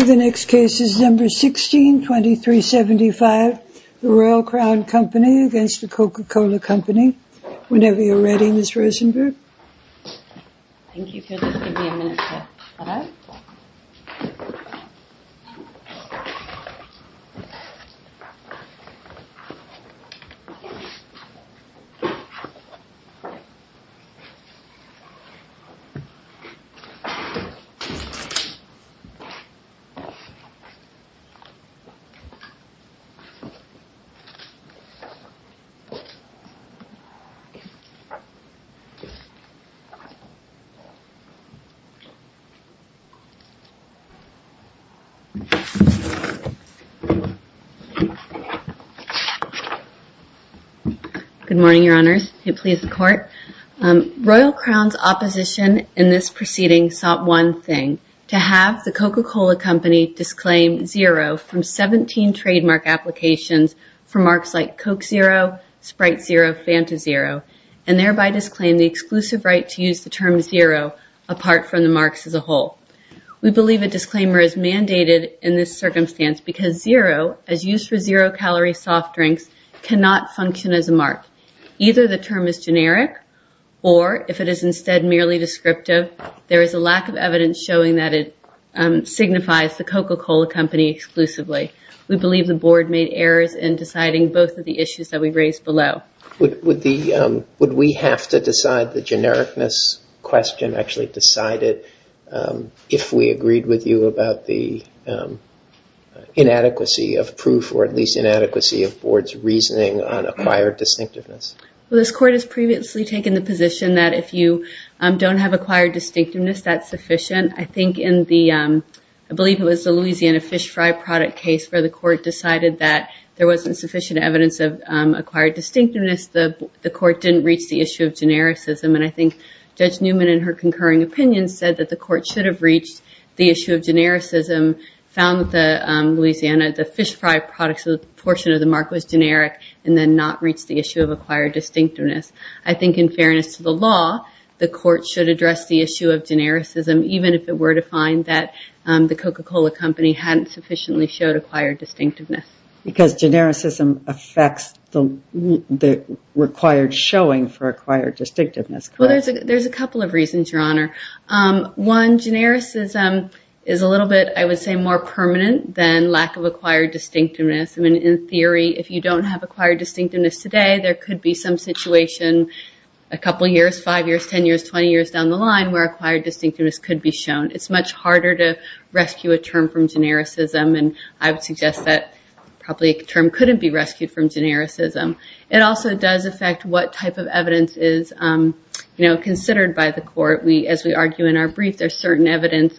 The Royal Crown Company v. The Coca-Cola Company Royal Crown's opposition in this proceeding sought one thing, to have the Coca-Cola Company disclaim zero from 17 trademark applications for marks like Coke Zero, Sprite Zero, Fanta Zero, and thereby disclaim the exclusive right to use the term zero apart from the marks as a whole. We believe a disclaimer is mandated in this circumstance because zero, as used for zero-calorie soft drinks, cannot function as a mark. Either the term is generic or, if it is instead merely descriptive, there is a lack of evidence showing that it signifies the Coca-Cola Company exclusively. We believe the Board made errors in deciding both of the issues that we raised below. Would we have to decide the genericness question actually decided if we agreed with you about the inadequacy of proof or at least inadequacy of Board's reasoning on acquired distinctiveness? This Court has previously taken the position that if you don't have acquired distinctiveness, that's sufficient. I believe it was the Louisiana fish fry product case where the Court decided that there wasn't sufficient evidence of acquired distinctiveness. The Court didn't reach the issue of genericism, and I think Judge Newman in her concurring opinion said that the Court should have reached the issue of genericism, found that the Louisiana fish fry product portion of the mark was generic, and then not reached the issue of acquired distinctiveness. I think in fairness to the law, the Court should address the issue of genericism, even if it were to find that the Coca-Cola Company hadn't sufficiently showed acquired distinctiveness. Because genericism affects the required showing for acquired distinctiveness, correct? There's a couple of reasons, Your Honor. One, genericism is a little bit, I would say, more permanent than lack of acquired distinctiveness. In theory, if you don't have acquired distinctiveness today, there could be some situation a couple years, five years, 10 years, 20 years down the line where acquired distinctiveness could be shown. It's much harder to rescue a term from genericism, and I would suggest that probably a term couldn't be rescued from genericism. It also does affect what type of evidence is considered by the Court. As we argue in our brief, there's certain evidence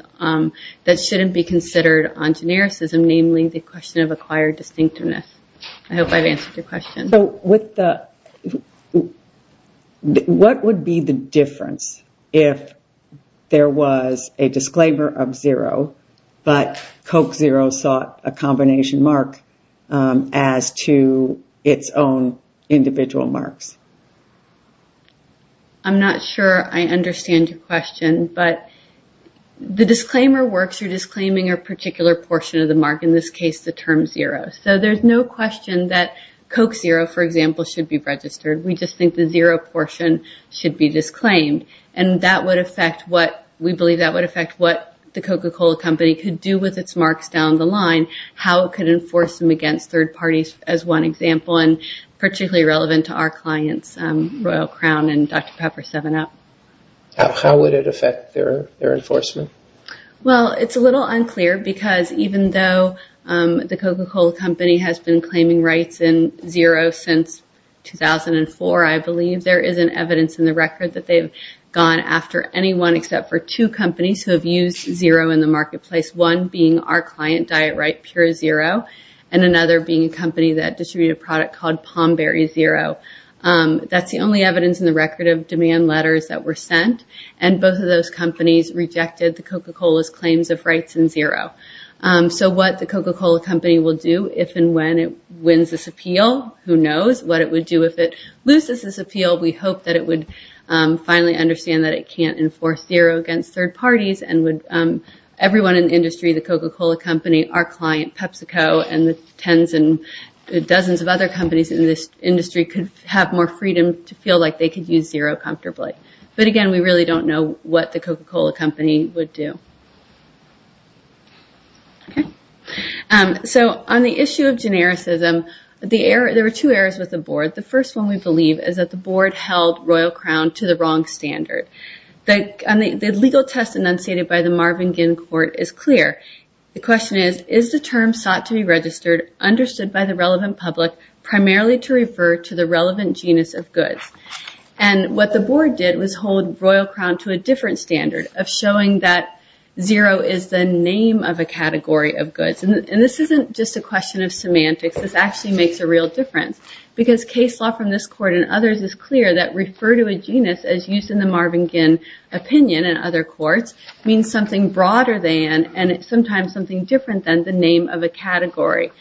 that shouldn't be considered on genericism, namely the question of acquired distinctiveness. I hope I've answered your question. What would be the difference if there was a disclaimer of zero, but Coke Zero sought a combination mark as to its own individual marks? I'm not sure I understand your question, but the disclaimer works. You're disclaiming a portion of the mark, in this case the term zero. There's no question that Coke Zero, for example, should be registered. We just think the zero portion should be disclaimed. We believe that would affect what the Coca-Cola company could do with its marks down the line, how it could enforce them against third parties, as one example, and particularly relevant to our clients, Royal Crown and Dr. Pepper 7 Up. How would it affect their enforcement? Well, it's a little unclear because even though the Coca-Cola company has been claiming rights in zero since 2004, I believe there is an evidence in the record that they've gone after anyone except for two companies who have used zero in the marketplace, one being our client, Diet Right Pure Zero, and another being a company that distributed a product called Palmberry Zero. That's the only evidence in the record of demand letters that were sent, and both of those companies rejected the Coca-Cola's claims of rights in zero. So what the Coca-Cola company will do if and when it wins this appeal, who knows what it would do if it loses this appeal. We hope that it would finally understand that it can't enforce zero against third parties, and everyone in the industry, the Coca-Cola company, our client, PepsiCo, and the tens and dozens of other companies in this industry could have more freedom to feel like they could use zero comfortably. But again, we really don't know what the Coca-Cola company would do. So on the issue of genericism, there were two errors with the board. The first one we believe is that the board held Royal Crown to the wrong standard. The legal test enunciated by the Marvin Ginn Court is clear. The question is, is the term sought to be registered, understood by the relevant public, primarily to refer to the relevant genus of goods? And what the board did was hold Royal Crown to a different standard of showing that zero is the name of a category of goods. And this isn't just a question of semantics. This actually makes a real difference because case law from this court and others is clear that refer to a genus as used in the Marvin Ginn opinion and other courts means something broader than, and sometimes something different than, the name of a category.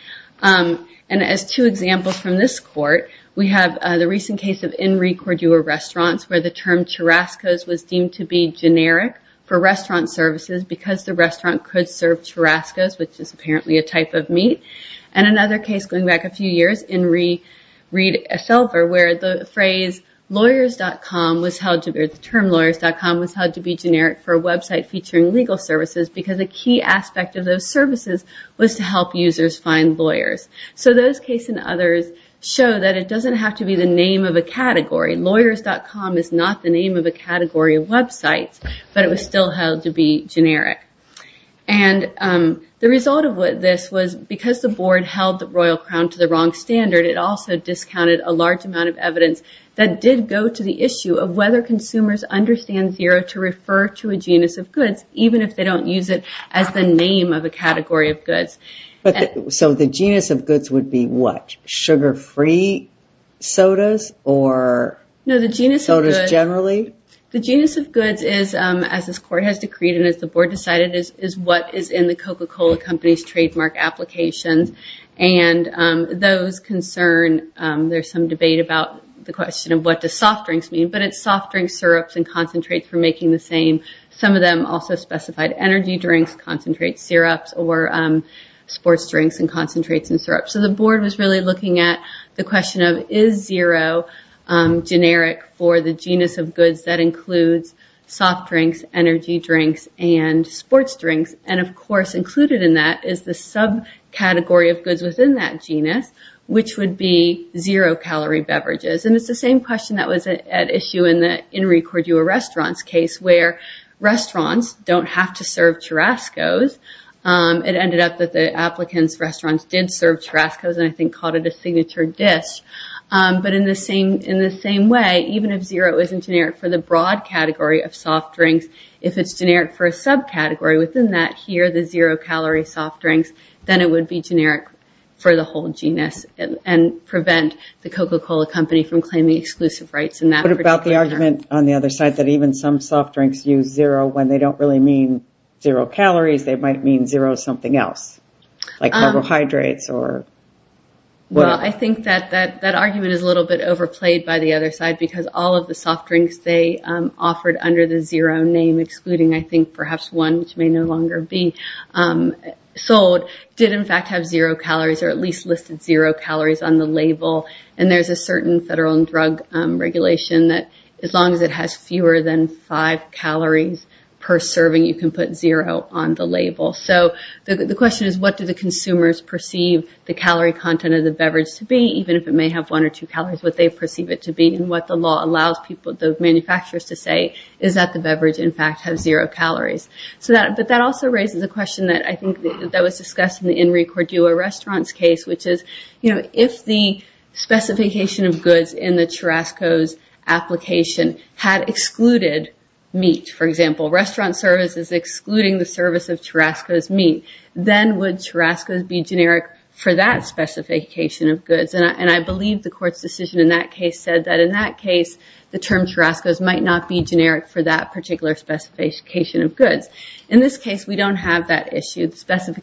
And as two examples from this court, we have the recent case of In Re Cordua restaurants where the term churrascos was deemed to be generic for restaurant services because the restaurant could serve churrascos, which is apparently a type of meat. And another case going back a few years, In Re Reed, where the phrase lawyers.com was held to be, or the term lawyers.com was held to be generic for a website featuring legal services because a key aspect of those services was to help users find lawyers. So those cases and others show that it doesn't have to be the name of a category. Lawyers.com is not the name of a category of websites, but it was still held to be generic. And the result of what this was, because the board held the Royal Crown to the wrong standard, it also discounted a large amount of evidence that did go to the issue of whether consumers understand zero to refer to a genus of goods, even if they don't use it as the name of a category of goods. So the genus of goods would be what? Sugar-free sodas or sodas generally? The genus of goods is, as this court has decreed and as the board decided, is what is in the Coca-Cola company's trademark applications. And those concern, there's some debate about the question of what does soft drinks mean, but it's soft drinks, syrups, and concentrates for making the same. Some of them also specified energy drinks, concentrate syrups, or sports drinks and concentrates and syrups. So the board was really looking at the question of, is zero generic for the genus of goods that includes soft drinks, energy drinks, and sports drinks? And of course, included in that is the subcategory of goods within that genus, which would be zero calorie beverages. And it's the same question that was at issue in the Henry Cordua restaurants case, where restaurants don't have to serve churascos. It ended up that the applicant's restaurants did serve churascos and I think called it a signature dish. But in the same way, even if zero isn't generic for the broad category of soft drinks, if it's generic for a subcategory within that here, the zero calorie soft drinks, then it would be generic for the whole genus and prevent the Coca-Cola company from claiming exclusive rights in that particular matter. What about the argument on the other side that even some soft drinks use zero when they don't really mean zero calories, they might mean zero something else like carbohydrates or... Well, I think that argument is a little bit overplayed by the other side because all of the soft drinks they offered under the zero name, excluding I think perhaps one, which may no longer be sold, did in fact have zero calories or at least listed zero calories on the label. And there's a certain federal drug regulation that as long as it has fewer than five calories per serving, you can put zero on the label. So the question is what do the consumers perceive the calorie content of the beverage to be, even if it may have one or two calories, what they perceive it to be and what the law allows the manufacturers to say is that the beverage in fact has zero calories. But that also raises a question that I think that was discussed in the Henry Cordua restaurants case, which is if the specification of goods in the Churrasco's application had excluded meat, for example, restaurant services excluding the service of Churrasco's meat, then would Churrasco's be generic for that specification of goods? And I believe the court's decision in that case said that in that case, the term Churrasco's might not be generic for that particular specification of goods. In this case, we don't have that issue. The calorie content of the beverage is zero calories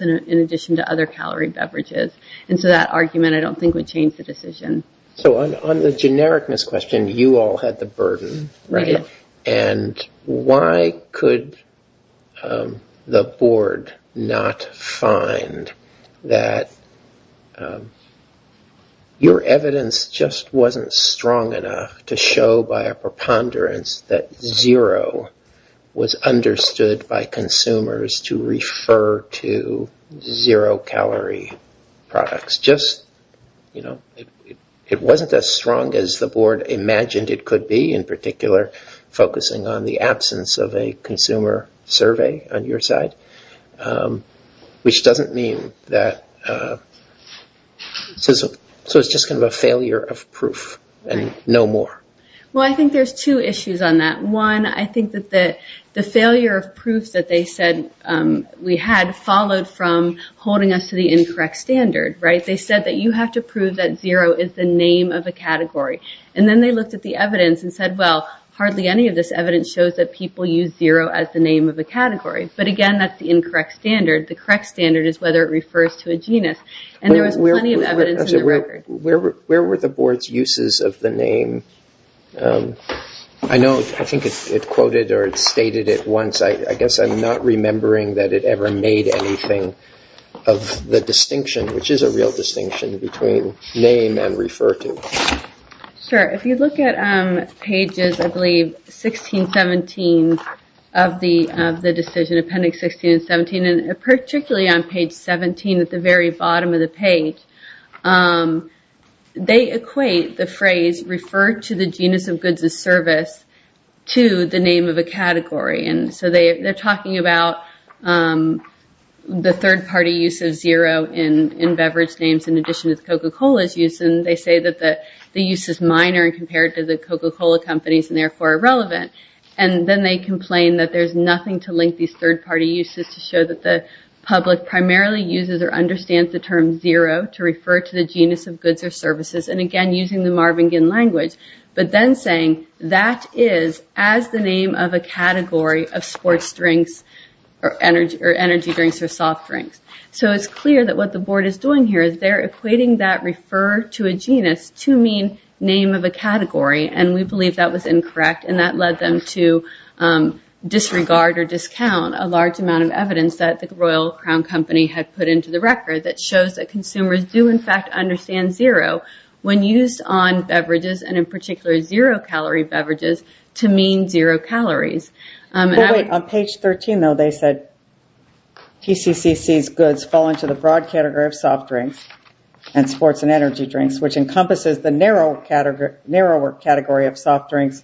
in addition to other calorie beverages. And so that argument I don't think would change the decision. So on the genericness question, you all had the burden, right? And why could the board not find that your evidence just wasn't strong enough to show by a preponderance that zero was understood by consumers to refer to zero calorie products? It wasn't as strong as the board imagined it could be, in particular focusing on the absence of a consumer survey on your side, which doesn't mean that... So it's just kind of a failure of proof and no more. Well, I think there's two issues on that. One, I think that the failure of proofs that they said we had followed from holding us to the incorrect standard, right? They said that you have to prove that zero is the name of a category. And then they looked at the evidence and said, well, hardly any of this evidence shows that people use zero as the name of a category. But again, that's the incorrect standard. The correct standard is whether it refers to a genus. And there was plenty of evidence in the record. Where were the board's uses of the name? I know, I think it quoted or it stated it once. I guess I'm not remembering that it ever made anything of the distinction, which is a real distinction between name and refer to. Sure. If you look at pages, I believe 16, 17 of the decision, appendix 16 and 17, particularly on page 17 at the very bottom of the page, they equate the phrase refer to the genus of goods and service to the name of a category. And so they're talking about the third party use of zero in beverage names in addition to the Coca-Cola's use. And they say that the use is minor and compared to the Coca-Cola companies and therefore irrelevant. And then they public primarily uses or understands the term zero to refer to the genus of goods or services. And again, using the language, but then saying that is as the name of a category of sports drinks or energy drinks or soft drinks. So it's clear that what the board is doing here is they're equating that refer to a genus to mean name of a category. And we believe that was incorrect. And that led them to disregard or discount a large amount of evidence that the Royal Crown Company had put into the record that shows that consumers do, in fact, understand zero when used on beverages and in particular zero calorie beverages to mean zero calories. On page 13, though, they said TCCC's goods fall into the broad category of soft drinks and sports and energy drinks, which encompasses the narrower category of soft drinks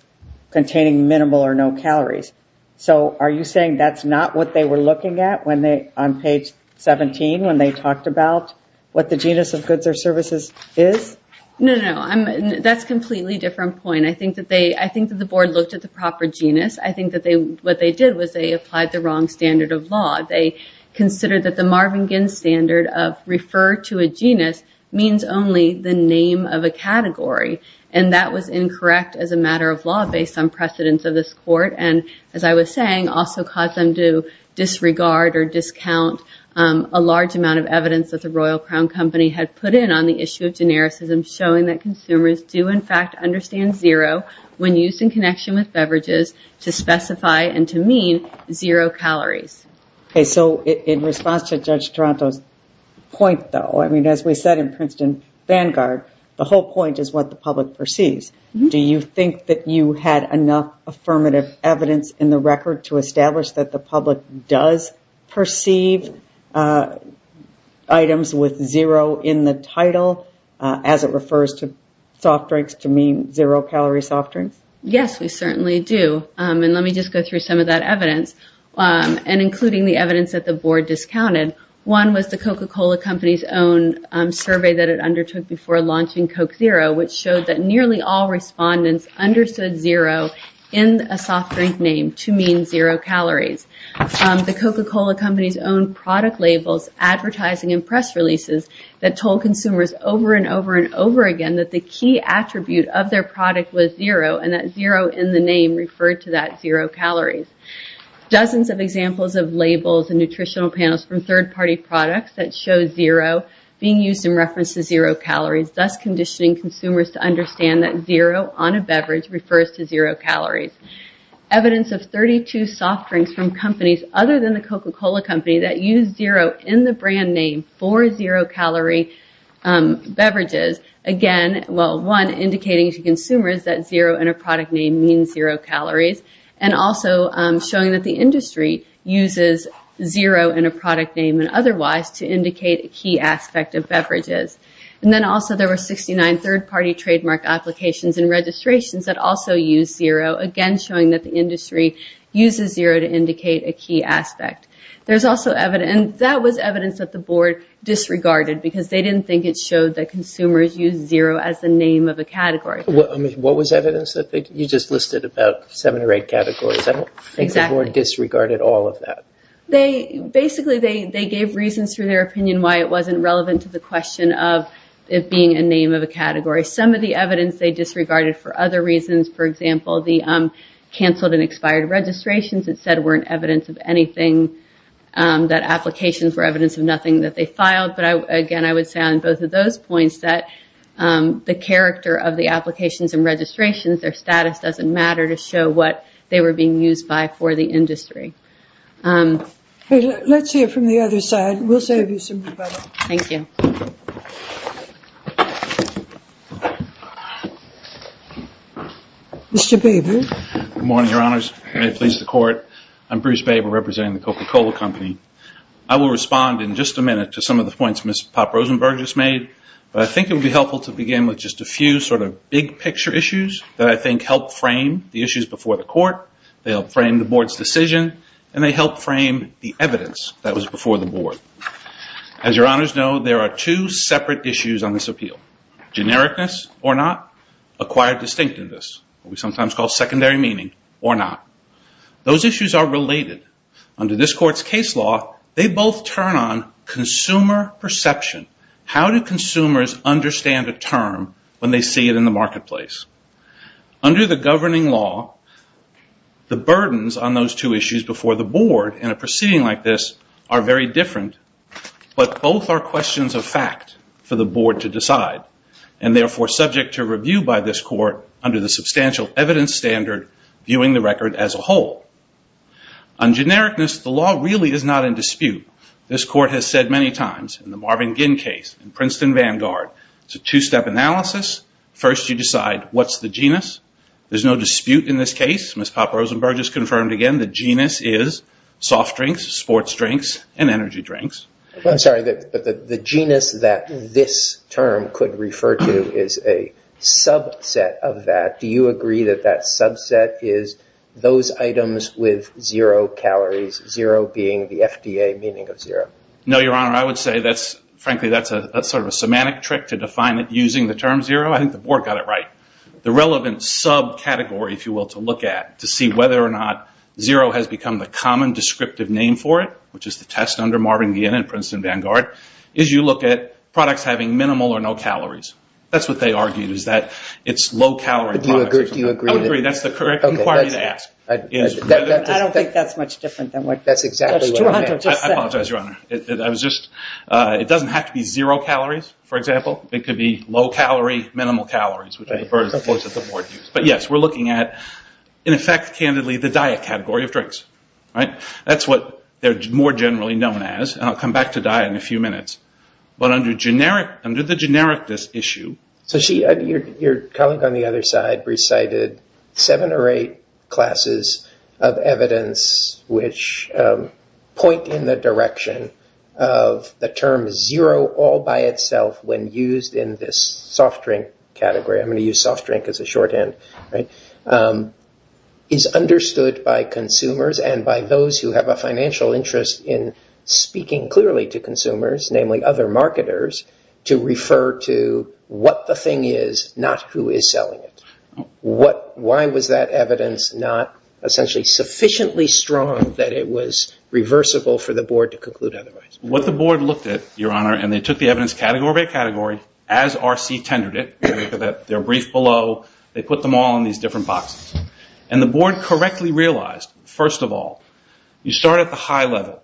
containing minimal or no calories. So are you saying that's not what they were looking at on page 17 when they talked about what the genus of goods or services is? No, no, no. That's a completely different point. I think that the board looked at the proper genus. I think that what they did was they applied the wrong standard of law. They considered that the Marvin Ginn standard of refer to a genus means only the name of a category. And that was incorrect as a matter of law based on precedence of this court and, as I was saying, also caused them to disregard or discount a large amount of evidence that the Royal Crown Company had put in on the issue of genericism showing that consumers do, in fact, understand zero when used in connection with beverages to specify and to mean zero calories. So in response to Judge Toronto's point, though, I mean, as we said in Princeton Vanguard, the whole point is what the public perceives. Do you think that you had enough affirmative evidence in the record to establish that the public does perceive items with zero in the title as it refers to soft drinks to mean zero calorie soft drinks? Yes, we certainly do. And let me just go through some of that evidence, and including the evidence that the board discounted. One was the Coca-Cola Company's survey that it undertook before launching Coke Zero, which showed that nearly all respondents understood zero in a soft drink name to mean zero calories. The Coca-Cola Company's own product labels, advertising and press releases that told consumers over and over and over again that the key attribute of their product was zero, and that zero in the name referred to that zero calories. Dozens of examples of labels and nutritional panels from third-party products that show zero being used in reference to zero calories, thus conditioning consumers to understand that zero on a beverage refers to zero calories. Evidence of 32 soft drinks from companies other than the Coca-Cola Company that use zero in the brand name for zero calorie beverages, again, well, one, indicating to consumers that zero in a product name means zero calories, and also showing that the industry uses zero in a product name and otherwise to indicate a key aspect of beverages. And then also there were 69 third-party trademark applications and registrations that also use zero, again, showing that the industry uses zero to indicate a key aspect. There's also evidence – and that was evidence that the board disregarded because they didn't think it showed that consumers used zero as the name of a category. What was evidence? You just listed about seven or eight categories. I don't think the board disregarded all of that. Exactly. Basically, they gave reasons through their opinion why it wasn't relevant to the question of it being a name of a category. Some of the evidence they disregarded for other reasons, for example, the canceled and expired registrations that said weren't evidence of anything, that applications were evidence of nothing that they filed. But again, I would say on both of points that the character of the applications and registrations, their status doesn't matter to show what they were being used by for the industry. Let's hear from the other side. We'll save you some rebuttal. Thank you. Mr. Baber? Good morning, Your Honors. May it please the Court. I'm Bruce Baber, representing the Coca-Cola Company. I will respond in just a minute to some of the points Ms. Pop-Rosenberg just made, but I think it would be helpful to begin with just a few sort of big picture issues that I think help frame the issues before the Court. They help frame the Board's decision, and they help frame the evidence that was before the Board. As Your Honors know, there are two separate issues on this appeal, genericness or not, acquired distinctiveness, what we sometimes call secondary meaning, or not. Those issues are they both turn on consumer perception. How do consumers understand a term when they see it in the marketplace? Under the governing law, the burdens on those two issues before the Board in a proceeding like this are very different, but both are questions of fact for the Board to decide and therefore subject to review by this Court under the substantial evidence standard viewing the record as a whole. On genericness, the law really is not in dispute. This Court has said many times in the Marvin Ginn case, in Princeton Vanguard, it's a two-step analysis. First, you decide what's the genus. There's no dispute in this case. Ms. Pop-Rosenberg has confirmed again the genus is soft drinks, sports drinks, and energy drinks. I'm sorry, but the genus that this term could refer to is a subset of that. Do you agree that that subset is those items with zero calories, zero being the FDA meaning of zero? No, Your Honor. I would say, frankly, that's sort of a semantic trick to define it using the term zero. I think the Board got it right. The relevant subcategory, if you will, to look at to see whether or not zero has become the common descriptive name for it, which is the test under Marvin Ginn and Princeton Vanguard, is you look at products having minimal or no calories. That's what they argued, is that it's low-calorie products. Do you agree? I agree. That's the correct inquiry to ask. I don't think that's much different than what that's exactly what it is. I apologize, Your Honor. It doesn't have to be zero calories, for example. It could be low-calorie, minimal calories, which are the words that the Board used. Yes, we're looking at, in effect, candidly, the diet category of drinks. That's what they're more generally known as. I'll come back to diet in a few minutes. Under the generic, this issue— So, your colleague on the other side recited seven or eight classes of evidence which point in the direction of the term zero all by itself when used in this soft drink category. I'm going to use soft drink as a shorthand. It's understood by consumers and by those who have a financial interest in speaking clearly to consumers, namely other marketers, to refer to what the thing is, not who is selling it. Why was that evidence not, essentially, sufficiently strong that it was reversible for the Board to conclude otherwise? What the Board looked at, Your Honor—and they took the evidence category by category, as R.C. tendered it. They're brief below. They put them all in these different boxes. The Board correctly realized, first of all, you start at the high level.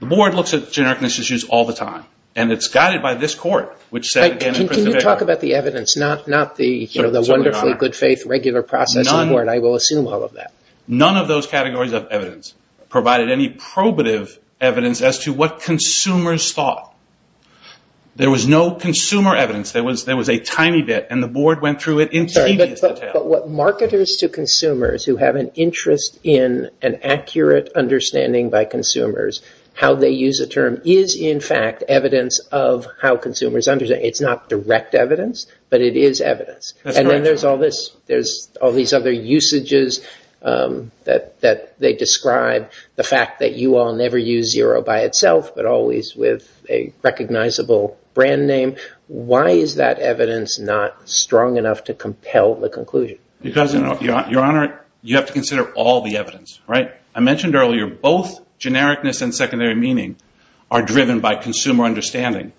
The Board looks at genericness issues all the time, and it's guided by this court, which said— Can you talk about the evidence, not the wonderfully good faith regular process of the Board? I will assume all of that. None of those categories of evidence provided any probative evidence as to what consumers thought. There was no consumer evidence. There was a tiny bit, and the Board went through it in tedious order. It's not direct evidence, but it is evidence. Then there's all these other usages that they describe—the fact that you all never use zero by itself, but always with a recognizable brand name. Why is that evidence not strong enough to compel the conclusion? Because, Your Honor, you have to consider all the evidence. I mentioned earlier, both genericness and secondary meaning are driven by consumer understanding.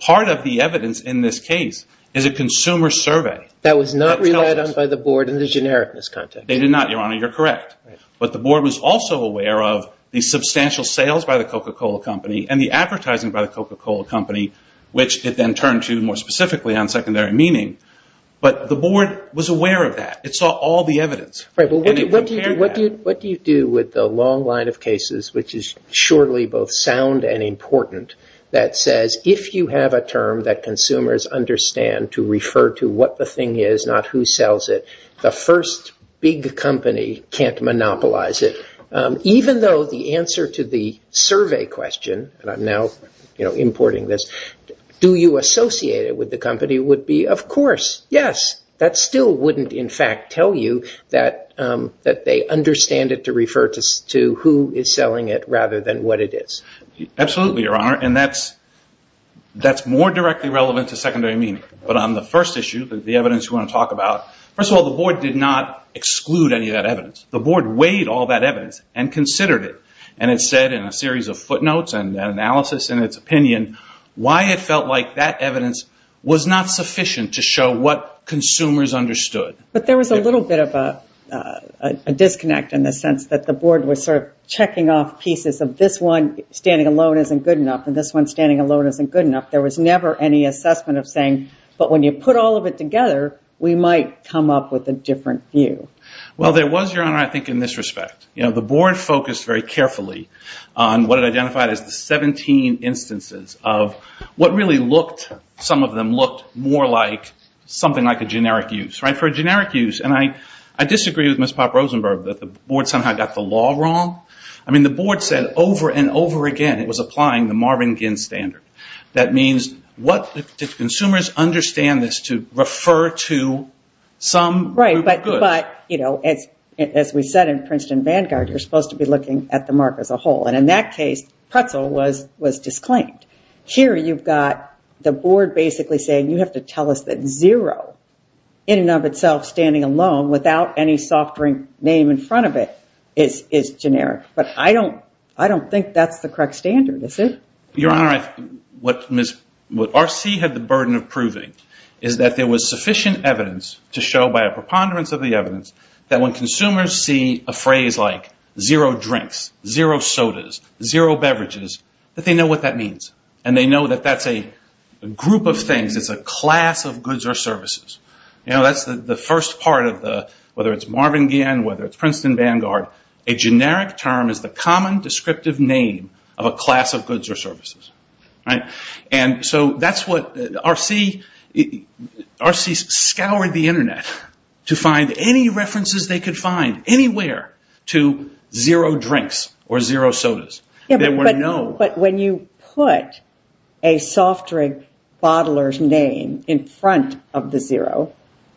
Part of the evidence in this case is a consumer survey. That was not relied on by the Board in the genericness context. They did not, Your Honor. You're correct. But the Board was also aware of the substantial sales by the Coca-Cola Company and the advertising by the Coca-Cola Company, which it then turned to, specifically on secondary meaning. But the Board was aware of that. It saw all the evidence. What do you do with the long line of cases, which is surely both sound and important, that says, if you have a term that consumers understand to refer to what the thing is, not who sells it, the first big company can't monopolize it? Even though the answer to the survey question, and I'm now importing this, do you associate it with the company would be, of course, yes. That still wouldn't, in fact, tell you that they understand it to refer to who is selling it rather than what it is. Absolutely, Your Honor. That's more directly relevant to secondary meaning. But on the first issue, the evidence you want to talk about, first of all, the Board did not exclude any of the evidence. The Board weighed all that evidence and considered it. It said in a series of footnotes and analysis in its opinion why it felt like that evidence was not sufficient to show what consumers understood. But there was a little bit of a disconnect in the sense that the Board was sort of checking off pieces of this one standing alone isn't good enough and this one standing alone isn't good enough. There was never any assessment of saying, but when you put all of it together, we might come up with a different view. Well, there was, Your Honor, I think in this respect. The Board focused very carefully on what it identified as the 17 instances of what really looked, some of them looked, more like something like a generic use. For a generic use, and I disagree with Ms. Pop Rosenberg that the Board somehow got the law wrong. I mean, the Board said over and over again it was applying the Marvin Ginn standard. That means what did refer to some group of goods. Right, but as we said in Princeton Vanguard, you're supposed to be looking at the mark as a whole. In that case, pretzel was disclaimed. Here you've got the Board basically saying you have to tell us that zero in and of itself standing alone without any soft drink name in front of it is generic. But I don't think that's the correct standard, is it? Your Honor, what R.C. had the burden of proving is that there was sufficient evidence to show by a preponderance of the evidence that when consumers see a phrase like zero drinks, zero sodas, zero beverages, that they know what that means, and they know that that's a group of things, it's a class of goods or services. That's the first part of the, whether it's Marvin Ginn, whether it's Princeton Vanguard, a generic term is the common descriptive name of a class of goods or services. And so that's what R.C. scoured the internet to find any references they could find anywhere to zero drinks or zero sodas. But when you put a soft drink bottler's name in front of the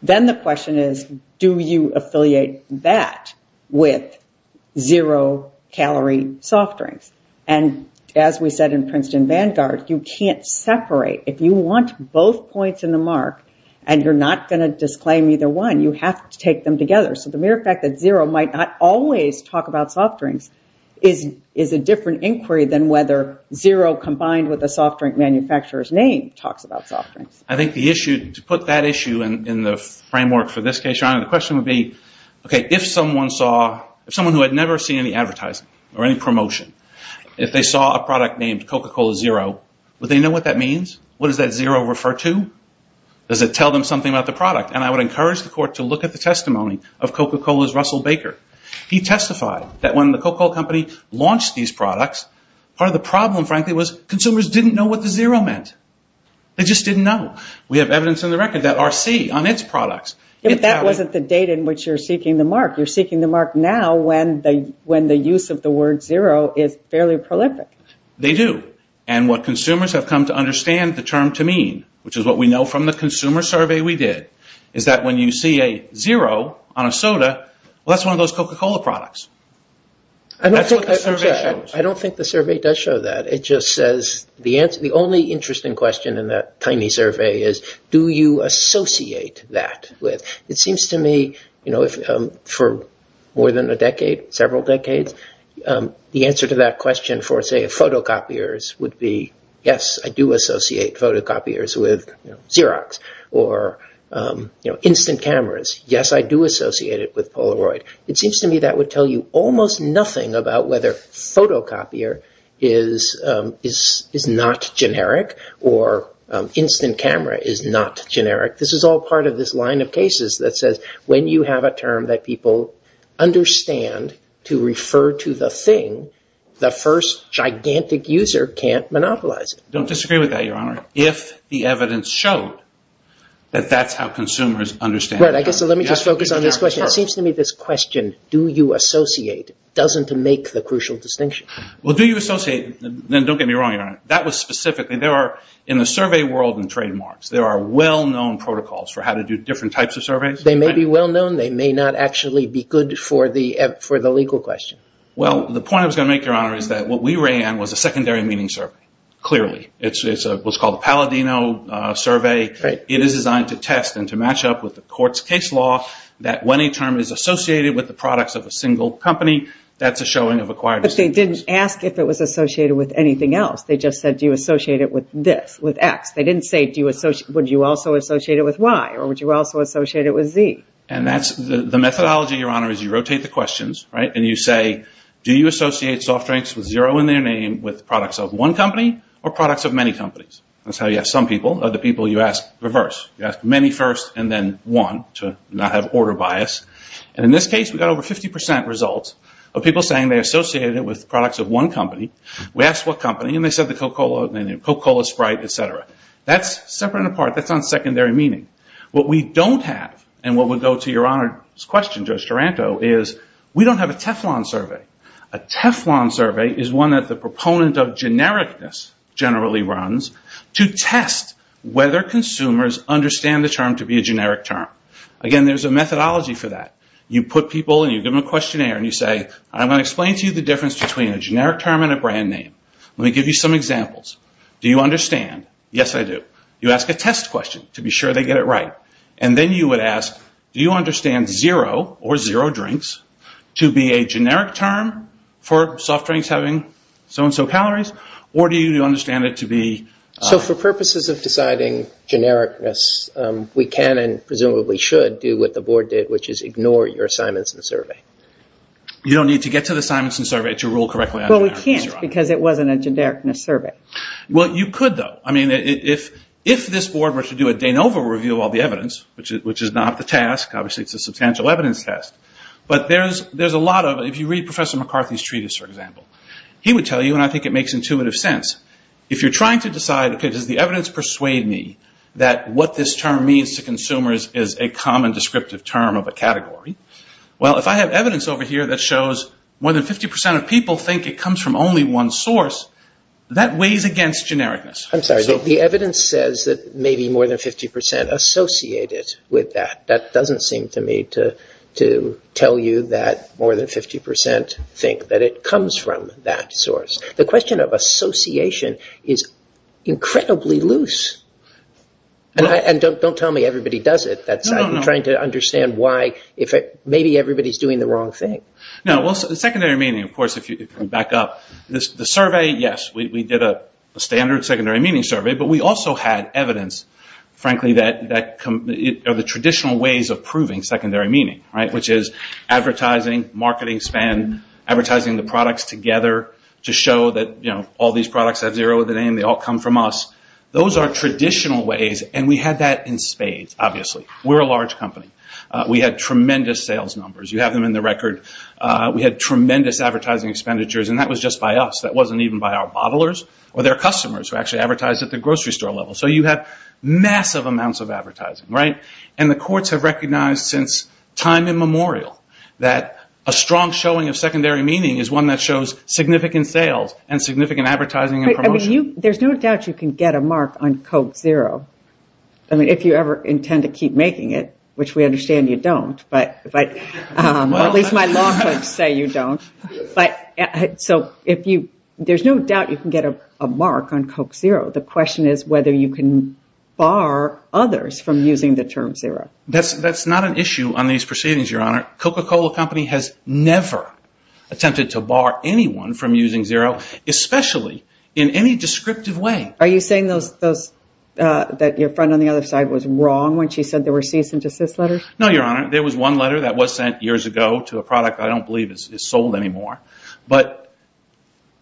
then the question is, do you affiliate that with zero calorie soft drinks? And as we said in Princeton Vanguard, you can't separate. If you want both points in the mark and you're not going to disclaim either one, you have to take them together. So the mere fact that zero might not always talk about soft drinks is a different inquiry than whether zero combined with a soft drink manufacturer's name talks about soft drinks. I think the issue, to put that issue in the framework for this case, Your Honor, the question would be, okay, if someone saw, if someone who had never seen any advertising or any promotion, if they saw a product named Coca-Cola Zero, would they know what that means? What does that zero refer to? Does it tell them something about the product? And I would encourage the court to look at the testimony of Coca-Cola's Russell Baker. He testified that when the Coca-Cola company launched these products, part of the problem, frankly, was consumers didn't know what the zero meant. They just didn't know. We have evidence in the record that R.C. on its products. But that wasn't the date in which you're seeking the mark. You're seeking the mark now when the use of the word zero is fairly prolific. They do. And what consumers have come to understand the term to mean, which is what we know from the consumer survey we did, is that when you see a zero on a soda, well, that's one of those Coca-Cola products. I don't think the survey does show that. It just says the answer. The only interesting question in that tiny survey is, do you associate that with? It seems to me, you know, for more than a decade, several decades, the answer to that question for, say, photocopiers would be, yes, I do associate photocopiers with Xerox or, you know, instant cameras. Yes, I do associate it with Polaroid. It seems to me that would tell you almost nothing about whether photocopier is not generic or instant camera is not generic. This is all part of this line of cases that says when you have a term that people understand to refer to the thing, the first gigantic user can't monopolize it. Don't disagree with that, Your Honor. If the evidence showed that that's how consumers understand... Right, I guess let me just focus on this question. It seems to me this question, do you associate, doesn't make the crucial distinction. Well, do you associate, then don't get me wrong, Your Honor. That was specifically, there are in the survey world and trademarks, there are well-known protocols for how to do different types of surveys. They may be well-known. They may not actually be good for the legal question. Well, the point I was going to make, Your Honor, is that what we ran was a secondary meaning survey, clearly. It's what's called a Palladino survey. It is designed to test and to match up with the court's case law that when a term is associated with the products of a single company, that's a showing of acquired... But they didn't ask if it was associated with anything else. They just said, do you associate it with this, with X? They didn't say, would you also associate it with Y, or would you also associate it with Z? And that's the methodology, Your Honor, is you rotate the questions and you say, do you associate soft drinks with zero in their name with products of one company or products of many companies? That's how you ask some people. Other people, you ask reverse. You ask many first and then one to not have order bias. And in this case, we got over 50% results of people saying they associated it with products of one company. We asked what company, and they said the Coca-Cola Sprite, et cetera. That's separate and apart. That's on secondary meaning. What we don't have, and what would go to Your Honor's question, Judge Taranto, is we don't have a Teflon survey. A Teflon survey is one that the proponent of genericness generally runs to test whether consumers understand the term to be a generic term. Again, there's a methodology for that. You put people and you give them a questionnaire and you say, I'm going to explain to you the difference between a generic term and a brand name. Let me give you some examples. Do you understand? Yes, I do. You ask a test question to be sure they get it right. And then you would ask, do you understand zero or zero drinks to be a generic term for soft drinks having so-and-so calories, or do you understand it to be... So for purposes of deciding genericness, we can and presumably should do what the board did, which is ignore your Simonson survey. You don't need to get to the Simonson survey to rule correctly. Well, we can't because it wasn't a genericness survey. Well, you could though. If this board were to do a de novo review of all the evidence, which is not the task, obviously it's a substantial evidence test, but there's a lot of... If you read Professor McCarthy's treatise, for example, he would tell you, and I think it makes intuitive sense, if you're trying to decide, okay, does the evidence persuade me that what this term means to consumers is a common descriptive term of a category? Well, if I have evidence over here that shows more than 50% of people think it comes from only one source, that weighs against genericness. I'm sorry. The evidence says that maybe more than 50% associate it with that. That doesn't seem to me to tell you that more than 50% think that it comes from that source. The question of association is incredibly loose. Don't tell me everybody does it. I'm trying to understand why if maybe everybody's doing the wrong thing. No. Well, secondary meaning, of course, back up. The survey, yes, we did a standard secondary meaning survey, but we also had evidence, frankly, of the traditional ways of proving secondary meaning, which is advertising, marketing span, advertising the products together to show that all these products have zero in the name, they all come from us. Those are traditional ways, and we had that in spades, obviously. We're a large company. We had tremendous sales numbers. You have them in the record. We had tremendous advertising expenditures, and that was just by us. That wasn't even by our bottlers or their customers who actually advertised at the grocery store level. So you have massive amounts of advertising, right? And the courts have recognized since time immemorial that a strong showing of secondary meaning is one that shows significant sales and significant advertising and promotion. There's no doubt you can get a mark on Coke Zero. If you ever intend to keep making it, which we understand you don't, but at least my law clerks say you don't. So there's no doubt you can get a mark on Coke Zero. The question is whether you can bar others from using the term zero. That's not an issue on these proceedings, Your Honor. Coca-Cola Company has never attempted to bar anyone from using zero, especially in any descriptive way. Are you saying that your friend on the other side was wrong when she said there were that was sent years ago to a product I don't believe is sold anymore? But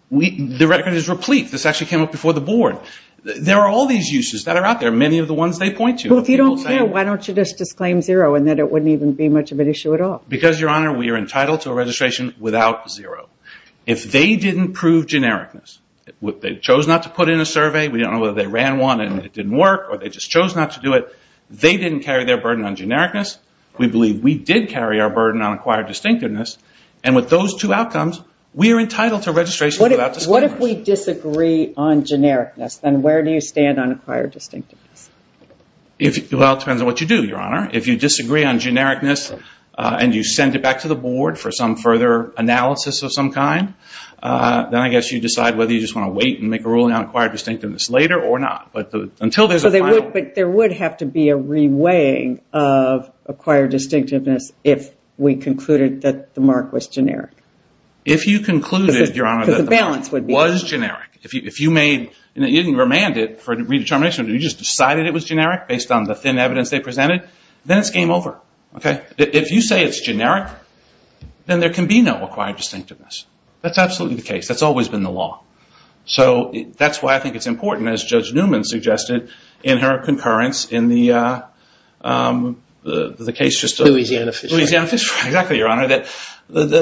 the record is replete. This actually came up before the board. There are all these uses that are out there, many of the ones they point to. Well, if you don't care, why don't you just disclaim zero and that it wouldn't even be much of an issue at all? Because, Your Honor, we are entitled to a registration without zero. If they didn't prove genericness, if they chose not to put in a survey, we don't know whether they ran one and it didn't work, or they just chose not to do it, they didn't carry their burden on genericness. We believe we did carry our burden on acquired distinctiveness, and with those two outcomes, we are entitled to registration without disclaimers. What if we disagree on genericness? Then where do you stand on acquired distinctiveness? Well, it depends on what you do, Your Honor. If you disagree on genericness and you send it back to the board for some further analysis of some kind, then I guess you decide whether you just want to wait and make a ruling on acquired distinctiveness later or not. But until there's a final... But there would have to be a re-weighing of acquired distinctiveness if we concluded that the mark was generic. If you concluded, Your Honor, that the mark was generic, if you made, you didn't remand it for redetermination, you just decided it was generic based on the thin evidence they presented, then it's game over. If you say it's generic, then there can be no acquired distinctiveness. That's absolutely the case. That's always been the law. So that's why I think it's important, as Judge Newman suggested in her concurrence in the case... Louisiana Fish Farm. Louisiana Fish Farm. Exactly, Your Honor.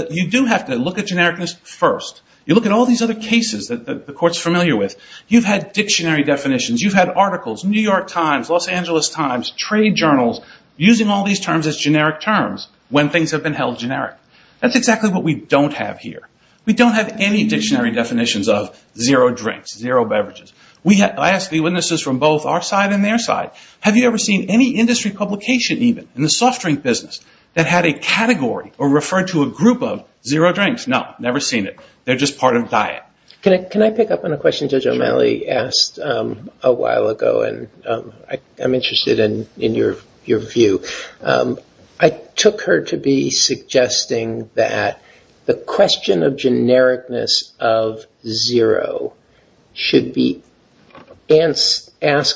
You do have to look at genericness first. You look at all these other cases that the court's familiar with. You've had dictionary definitions. You've had articles, New York Times, Los Angeles Times, trade journals, using all these terms as generic terms when things have been held generic. That's exactly what we don't have here. We don't have any dictionary definitions of zero drinks, zero beverages. I asked the witnesses from both our side and their side, have you ever seen any industry publication even in the soft drink business that had a category or referred to a group of zero drinks? No, never seen it. They're just part of a diet. Can I pick up on a question Judge O'Malley asked a while ago? I'm interested in your view. I took her to be suggesting that the question of genericness of zero should be asked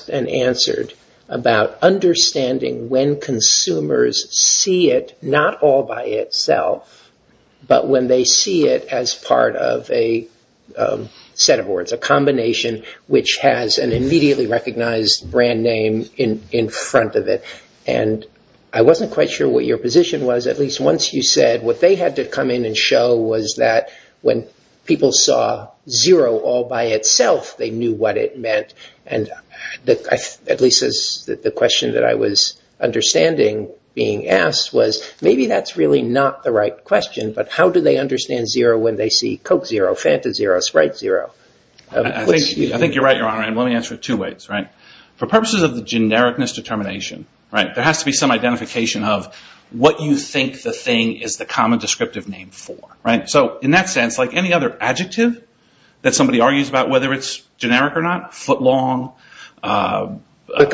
and answered about understanding when consumers see it, not all by itself, but when they see it as part of a set of words, a combination, which has an immediately recognized brand name in front of it. I wasn't quite sure what your position was. At least once you said what they had to come in and show was that when people saw zero all by itself, they knew what it meant. At least the question that I was understanding being asked was, maybe that's really not the right question, but how do they understand zero when they see Coke zero, Fanta zero, Sprite zero? I think you're right, Your Honor. Let me answer it two ways. For purposes of the genericness determination, there has to be some identification of what you think the thing is the common descriptive name for. In that sense, like any other adjective that somebody argues about whether it's generic or not, footlong, brick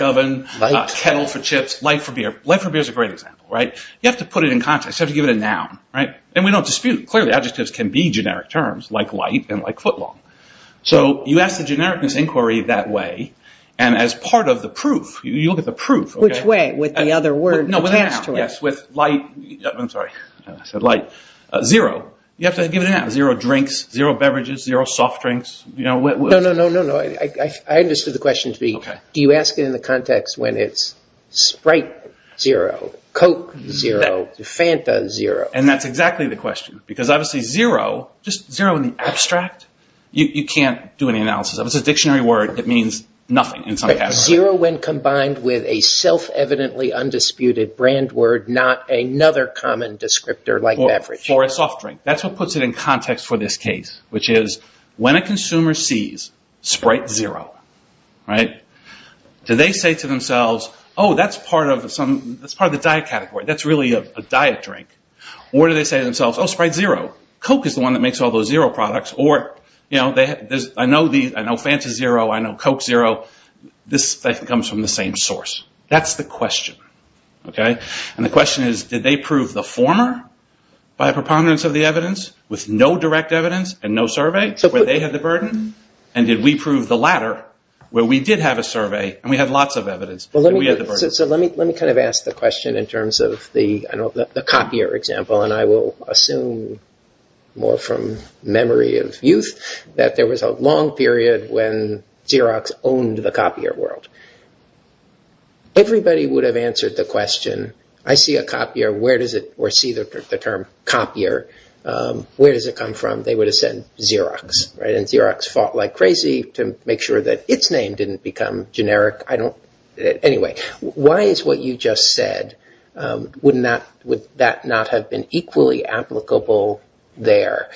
oven, kettle for chips, light for beer. Light for beer is a great example. You have to put it in context. You have to give it a noun. We don't dispute. Clearly, adjectives can be generic terms like light and like footlong. You ask the genericness inquiry that way. As part of the proof, you'll get the proof. Which way? With the other word attached to it? Yes, with light. I'm sorry. I said light. Zero. You have to give it a noun. Zero drinks, zero beverages, zero soft drinks. No, no, no, no, no. I understood the question to be, do you ask it in the context when it's Sprite zero, Coke zero, Fanta zero? That's exactly the question. Because obviously zero, just zero in the abstract, you can't do any analysis. If it's a dictionary word, it means nothing in some category. Zero when combined with a self-evidently undisputed brand word, not another common descriptor like beverage. For a soft drink. That's what puts it in context for this case, which is when a consumer sees Sprite zero, do they say to themselves, oh, that's part of the diet category. That's really a diet drink. Or do they say to themselves, oh, Sprite zero. Coke is the one that makes all those zero products. I know Fanta zero. I know Coke zero. This comes from the same source. That's the question. And the question is, did they prove the former by a preponderance of the evidence with no direct evidence and no survey where they had the burden? And did we prove the latter where we did have a survey and we had lots of evidence, but we had the burden? So let me ask the question in terms of the copier example. And I will assume more from memory of youth that there was a long period when Xerox owned the copier world. Everybody would have answered the question, I see a copier, where does it or see the term copier? Where does it come from? They would have said Xerox, right? And Xerox fought like crazy to make sure that its name didn't become generic. I don't. Anyway, why is what you just said? Would that not have been equally applicable there?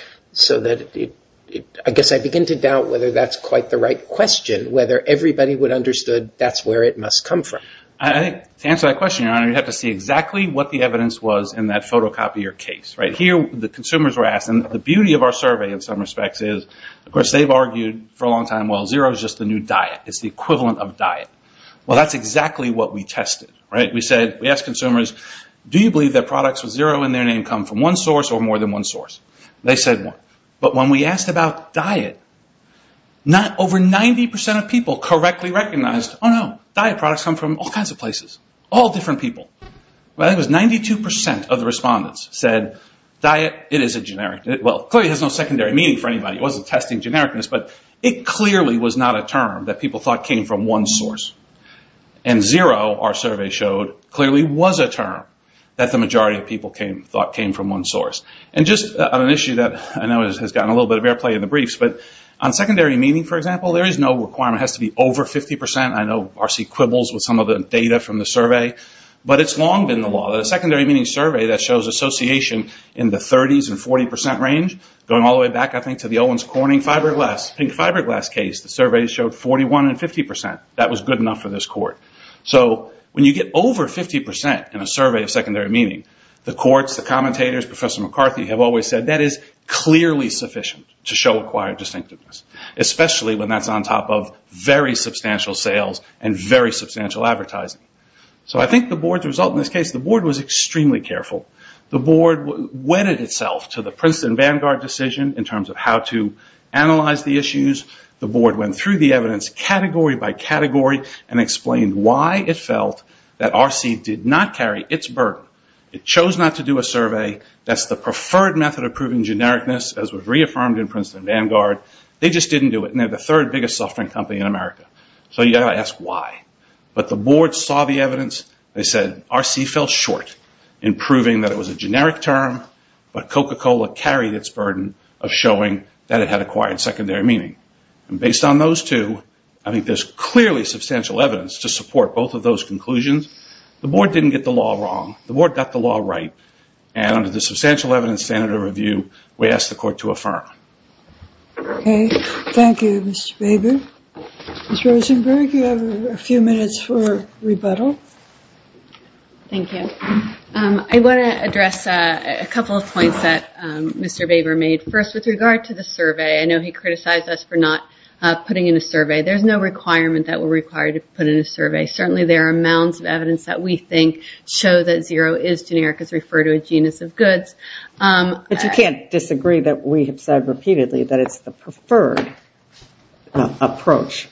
I guess I begin to doubt whether that's quite the right question, whether everybody would have understood that's where it must come from. I think to answer that question, Your Honor, you'd have to see exactly what the evidence was in that photocopier case, right? Here, the consumers were asked. And the beauty of our survey in some respects is, of course, they've argued for a long time, well, Xerox is just a new diet. It's the equivalent of diet. Well, that's exactly what we tested, right? We asked consumers, do you believe that products with Xerox in their name come from one source or more than one source? They said one. But when we asked about diet, over 90% of people correctly recognized, oh no, diet products come from all kinds of places, all different people. It was 92% of the respondents said, diet, it is a generic. Well, clearly it has no secondary meaning for anybody. It wasn't testing genericness, but it clearly was not a term that people thought came from one source. And zero, our survey showed, clearly was a term that the majority of people thought came from one source. And just on an issue that I know has gotten a little bit of airplay in the briefs, but on secondary meaning, for example, there is no requirement. It has to be over 50%. I know RC quibbles with some of the data from the survey, but it's long been the law. The secondary meaning survey that shows association in the 30s and 40% range, going all the way back, I think, to the Owens Corning fiberglass, pink fiberglass case, the survey showed 41 and 50%. That was good enough for this court. So when you get over 50% in a survey of secondary meaning, the courts, the commentators, Professor McCarthy, have always said that is clearly sufficient to show acquired distinctiveness. Especially when that's on top of very substantial sales and very substantial advertising. So I think the board's result in this case, the board was extremely careful. The board wedded itself to the Princeton Vanguard decision in terms of how to analyze the issues. The board went through the evidence category by category and explained why it felt that RC did not carry its burden. It chose not to do a survey. That's the preferred method of proving genericness as was reaffirmed in Princeton Vanguard. They just didn't do it. They're the third biggest software company in America. So you've got to ask why. But the board saw the evidence. They said RC fell short in proving that it was a generic term, but Coca-Cola carried its burden of showing that it had acquired secondary meaning. And based on those two, I think there's clearly substantial evidence to support both of those conclusions. The board didn't get the law wrong. The board got the law right. And under the substantial evidence standard of review, we ask the court to affirm. Thank you, Mr. Baber. Ms. Rosenberg, you have a few minutes for rebuttal. Thank you. I want to address a couple of points that Mr. Baber made. First, with regard to the survey, I know he criticized us for not putting in a survey. There's no requirement that we're required to put in a survey. Certainly, there are amounts of evidence that we think show that zero is generic as referred to a genus of goods. But you can't disagree that we have said repeatedly that it's the preferred approach.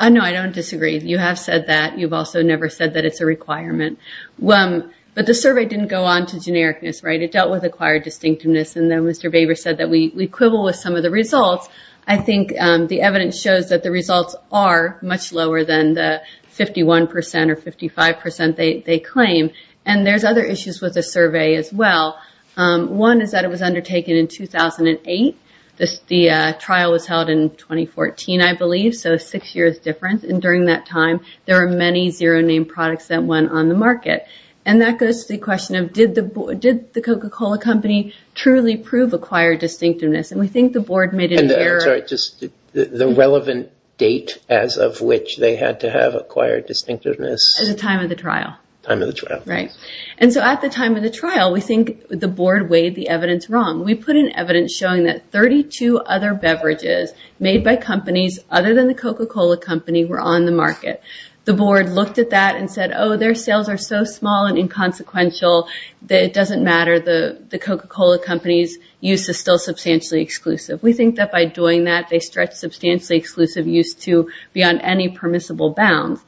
No, I don't disagree. You have said that. You've also never said that it's a requirement. But the survey didn't go on to genericness, right? It dealt with acquired distinctiveness. And then Mr. Baber said that we quibble with some of the results. I think the evidence shows that the results are much lower than the 51% or 55% they claim. And there's other issues with the survey as well. One is that it was undertaken in 2008. The trial was held in 2014, I believe. So six years difference. And during that time, there are many zero-name products that went on the market. And that goes to the question of did the Coca-Cola company truly prove acquired distinctiveness? And we think the board made an error. I'm sorry, just the relevant date as of which they had to have acquired distinctiveness? At the time of the trial. Time of the trial. Right. And so at the time of the trial, we think the board weighed the evidence wrong. We put in evidence showing that 32 other beverages made by companies other than the Coca-Cola company were on the market. The board looked at that and said, their sales are so small and inconsequential that it doesn't matter. The Coca-Cola company's use is still substantially exclusive. We think that by doing that, they stretch substantially exclusive use to beyond any permissible bounds.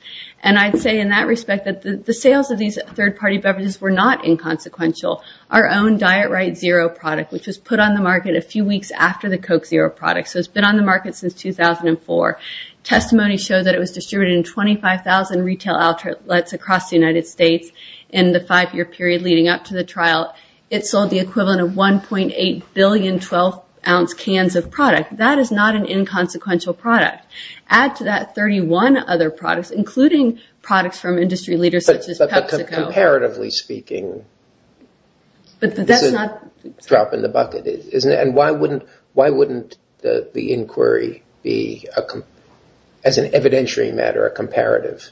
And I'd say in that respect, that the sales of these third-party beverages were not inconsequential. Our own Diet Right Zero product, which was put on the market a few weeks after the Coke Zero product. So it's been on the market since 2004. Testimony showed that it was distributed in 25,000 retail outlets across the United States in the five-year period leading up to the trial. It sold the equivalent of 1.8 billion 12-ounce cans of product. That is not an inconsequential product. Add to that 31 other products, including products from industry leaders, such as PepsiCo. Comparatively speaking, that's a drop in the bucket, isn't it? And why wouldn't the inquiry be, as an evidentiary matter, a comparative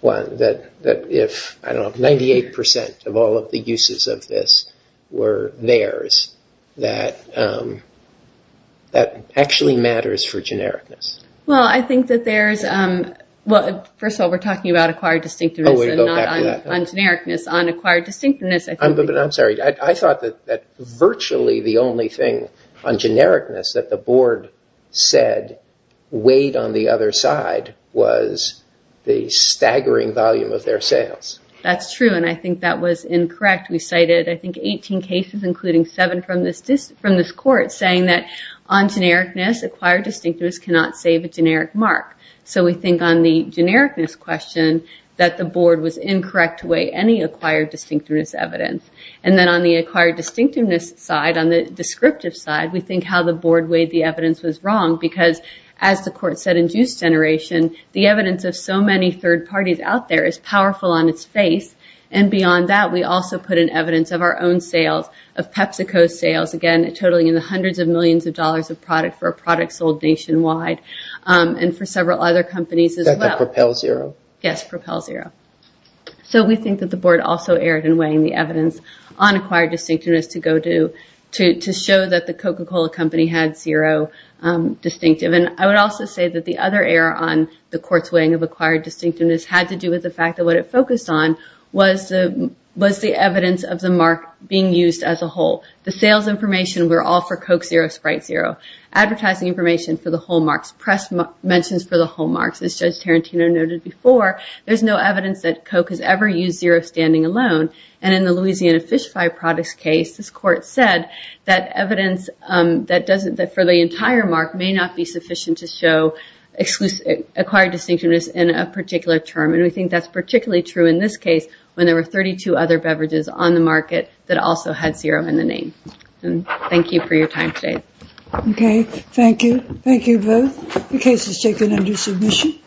one? That if, I don't know, 98% of all of the uses of this were theirs, that actually matters for genericness. Well, I think that there's... Well, first of all, we're talking about acquired distinctiveness and not on genericness. On acquired distinctiveness, I think... But I'm sorry. I thought that virtually the only thing on genericness that the board said weighed on the other side was the staggering volume of their sales. That's true. And I think that was incorrect. We cited, I think, 18 cases, including seven from this court, saying that on genericness, acquired distinctiveness cannot save a generic mark. So we think on the genericness question that the board was incorrect to weigh any acquired distinctiveness evidence. And then on the acquired distinctiveness side, on the descriptive side, we think how the board weighed the evidence was wrong because as the court said in juice generation, the evidence of so many third parties out there is powerful on its face. And beyond that, we also put in evidence of our own sales, of PepsiCo sales, again, totaling in the hundreds of millions of dollars of product for a product sold nationwide and for several other companies as well. That could propel zero. Yes, propel zero. So we think that the board also erred in weighing the evidence on acquired distinctiveness to show that the Coca-Cola company had zero distinctive. And I would also say that the other error on the court's weighing of acquired distinctiveness had to do with the fact that what it focused on was the evidence of the mark being used as a whole. The sales information were all for Coke zero, Sprite zero. Advertising information for the whole marks, press mentions for the whole marks. As Judge Tarantino noted before, there's no evidence that Coke has ever used zero standing alone. And in the Louisiana fish fry products case, this court said that evidence that for the entire mark may not be sufficient to show acquired distinctiveness in a particular term. And we think that's particularly true in this case when there were 32 other beverages on the market that also had zero in the name. Thank you for your time today. Okay, thank you. Thank you both. The case is taken under submission.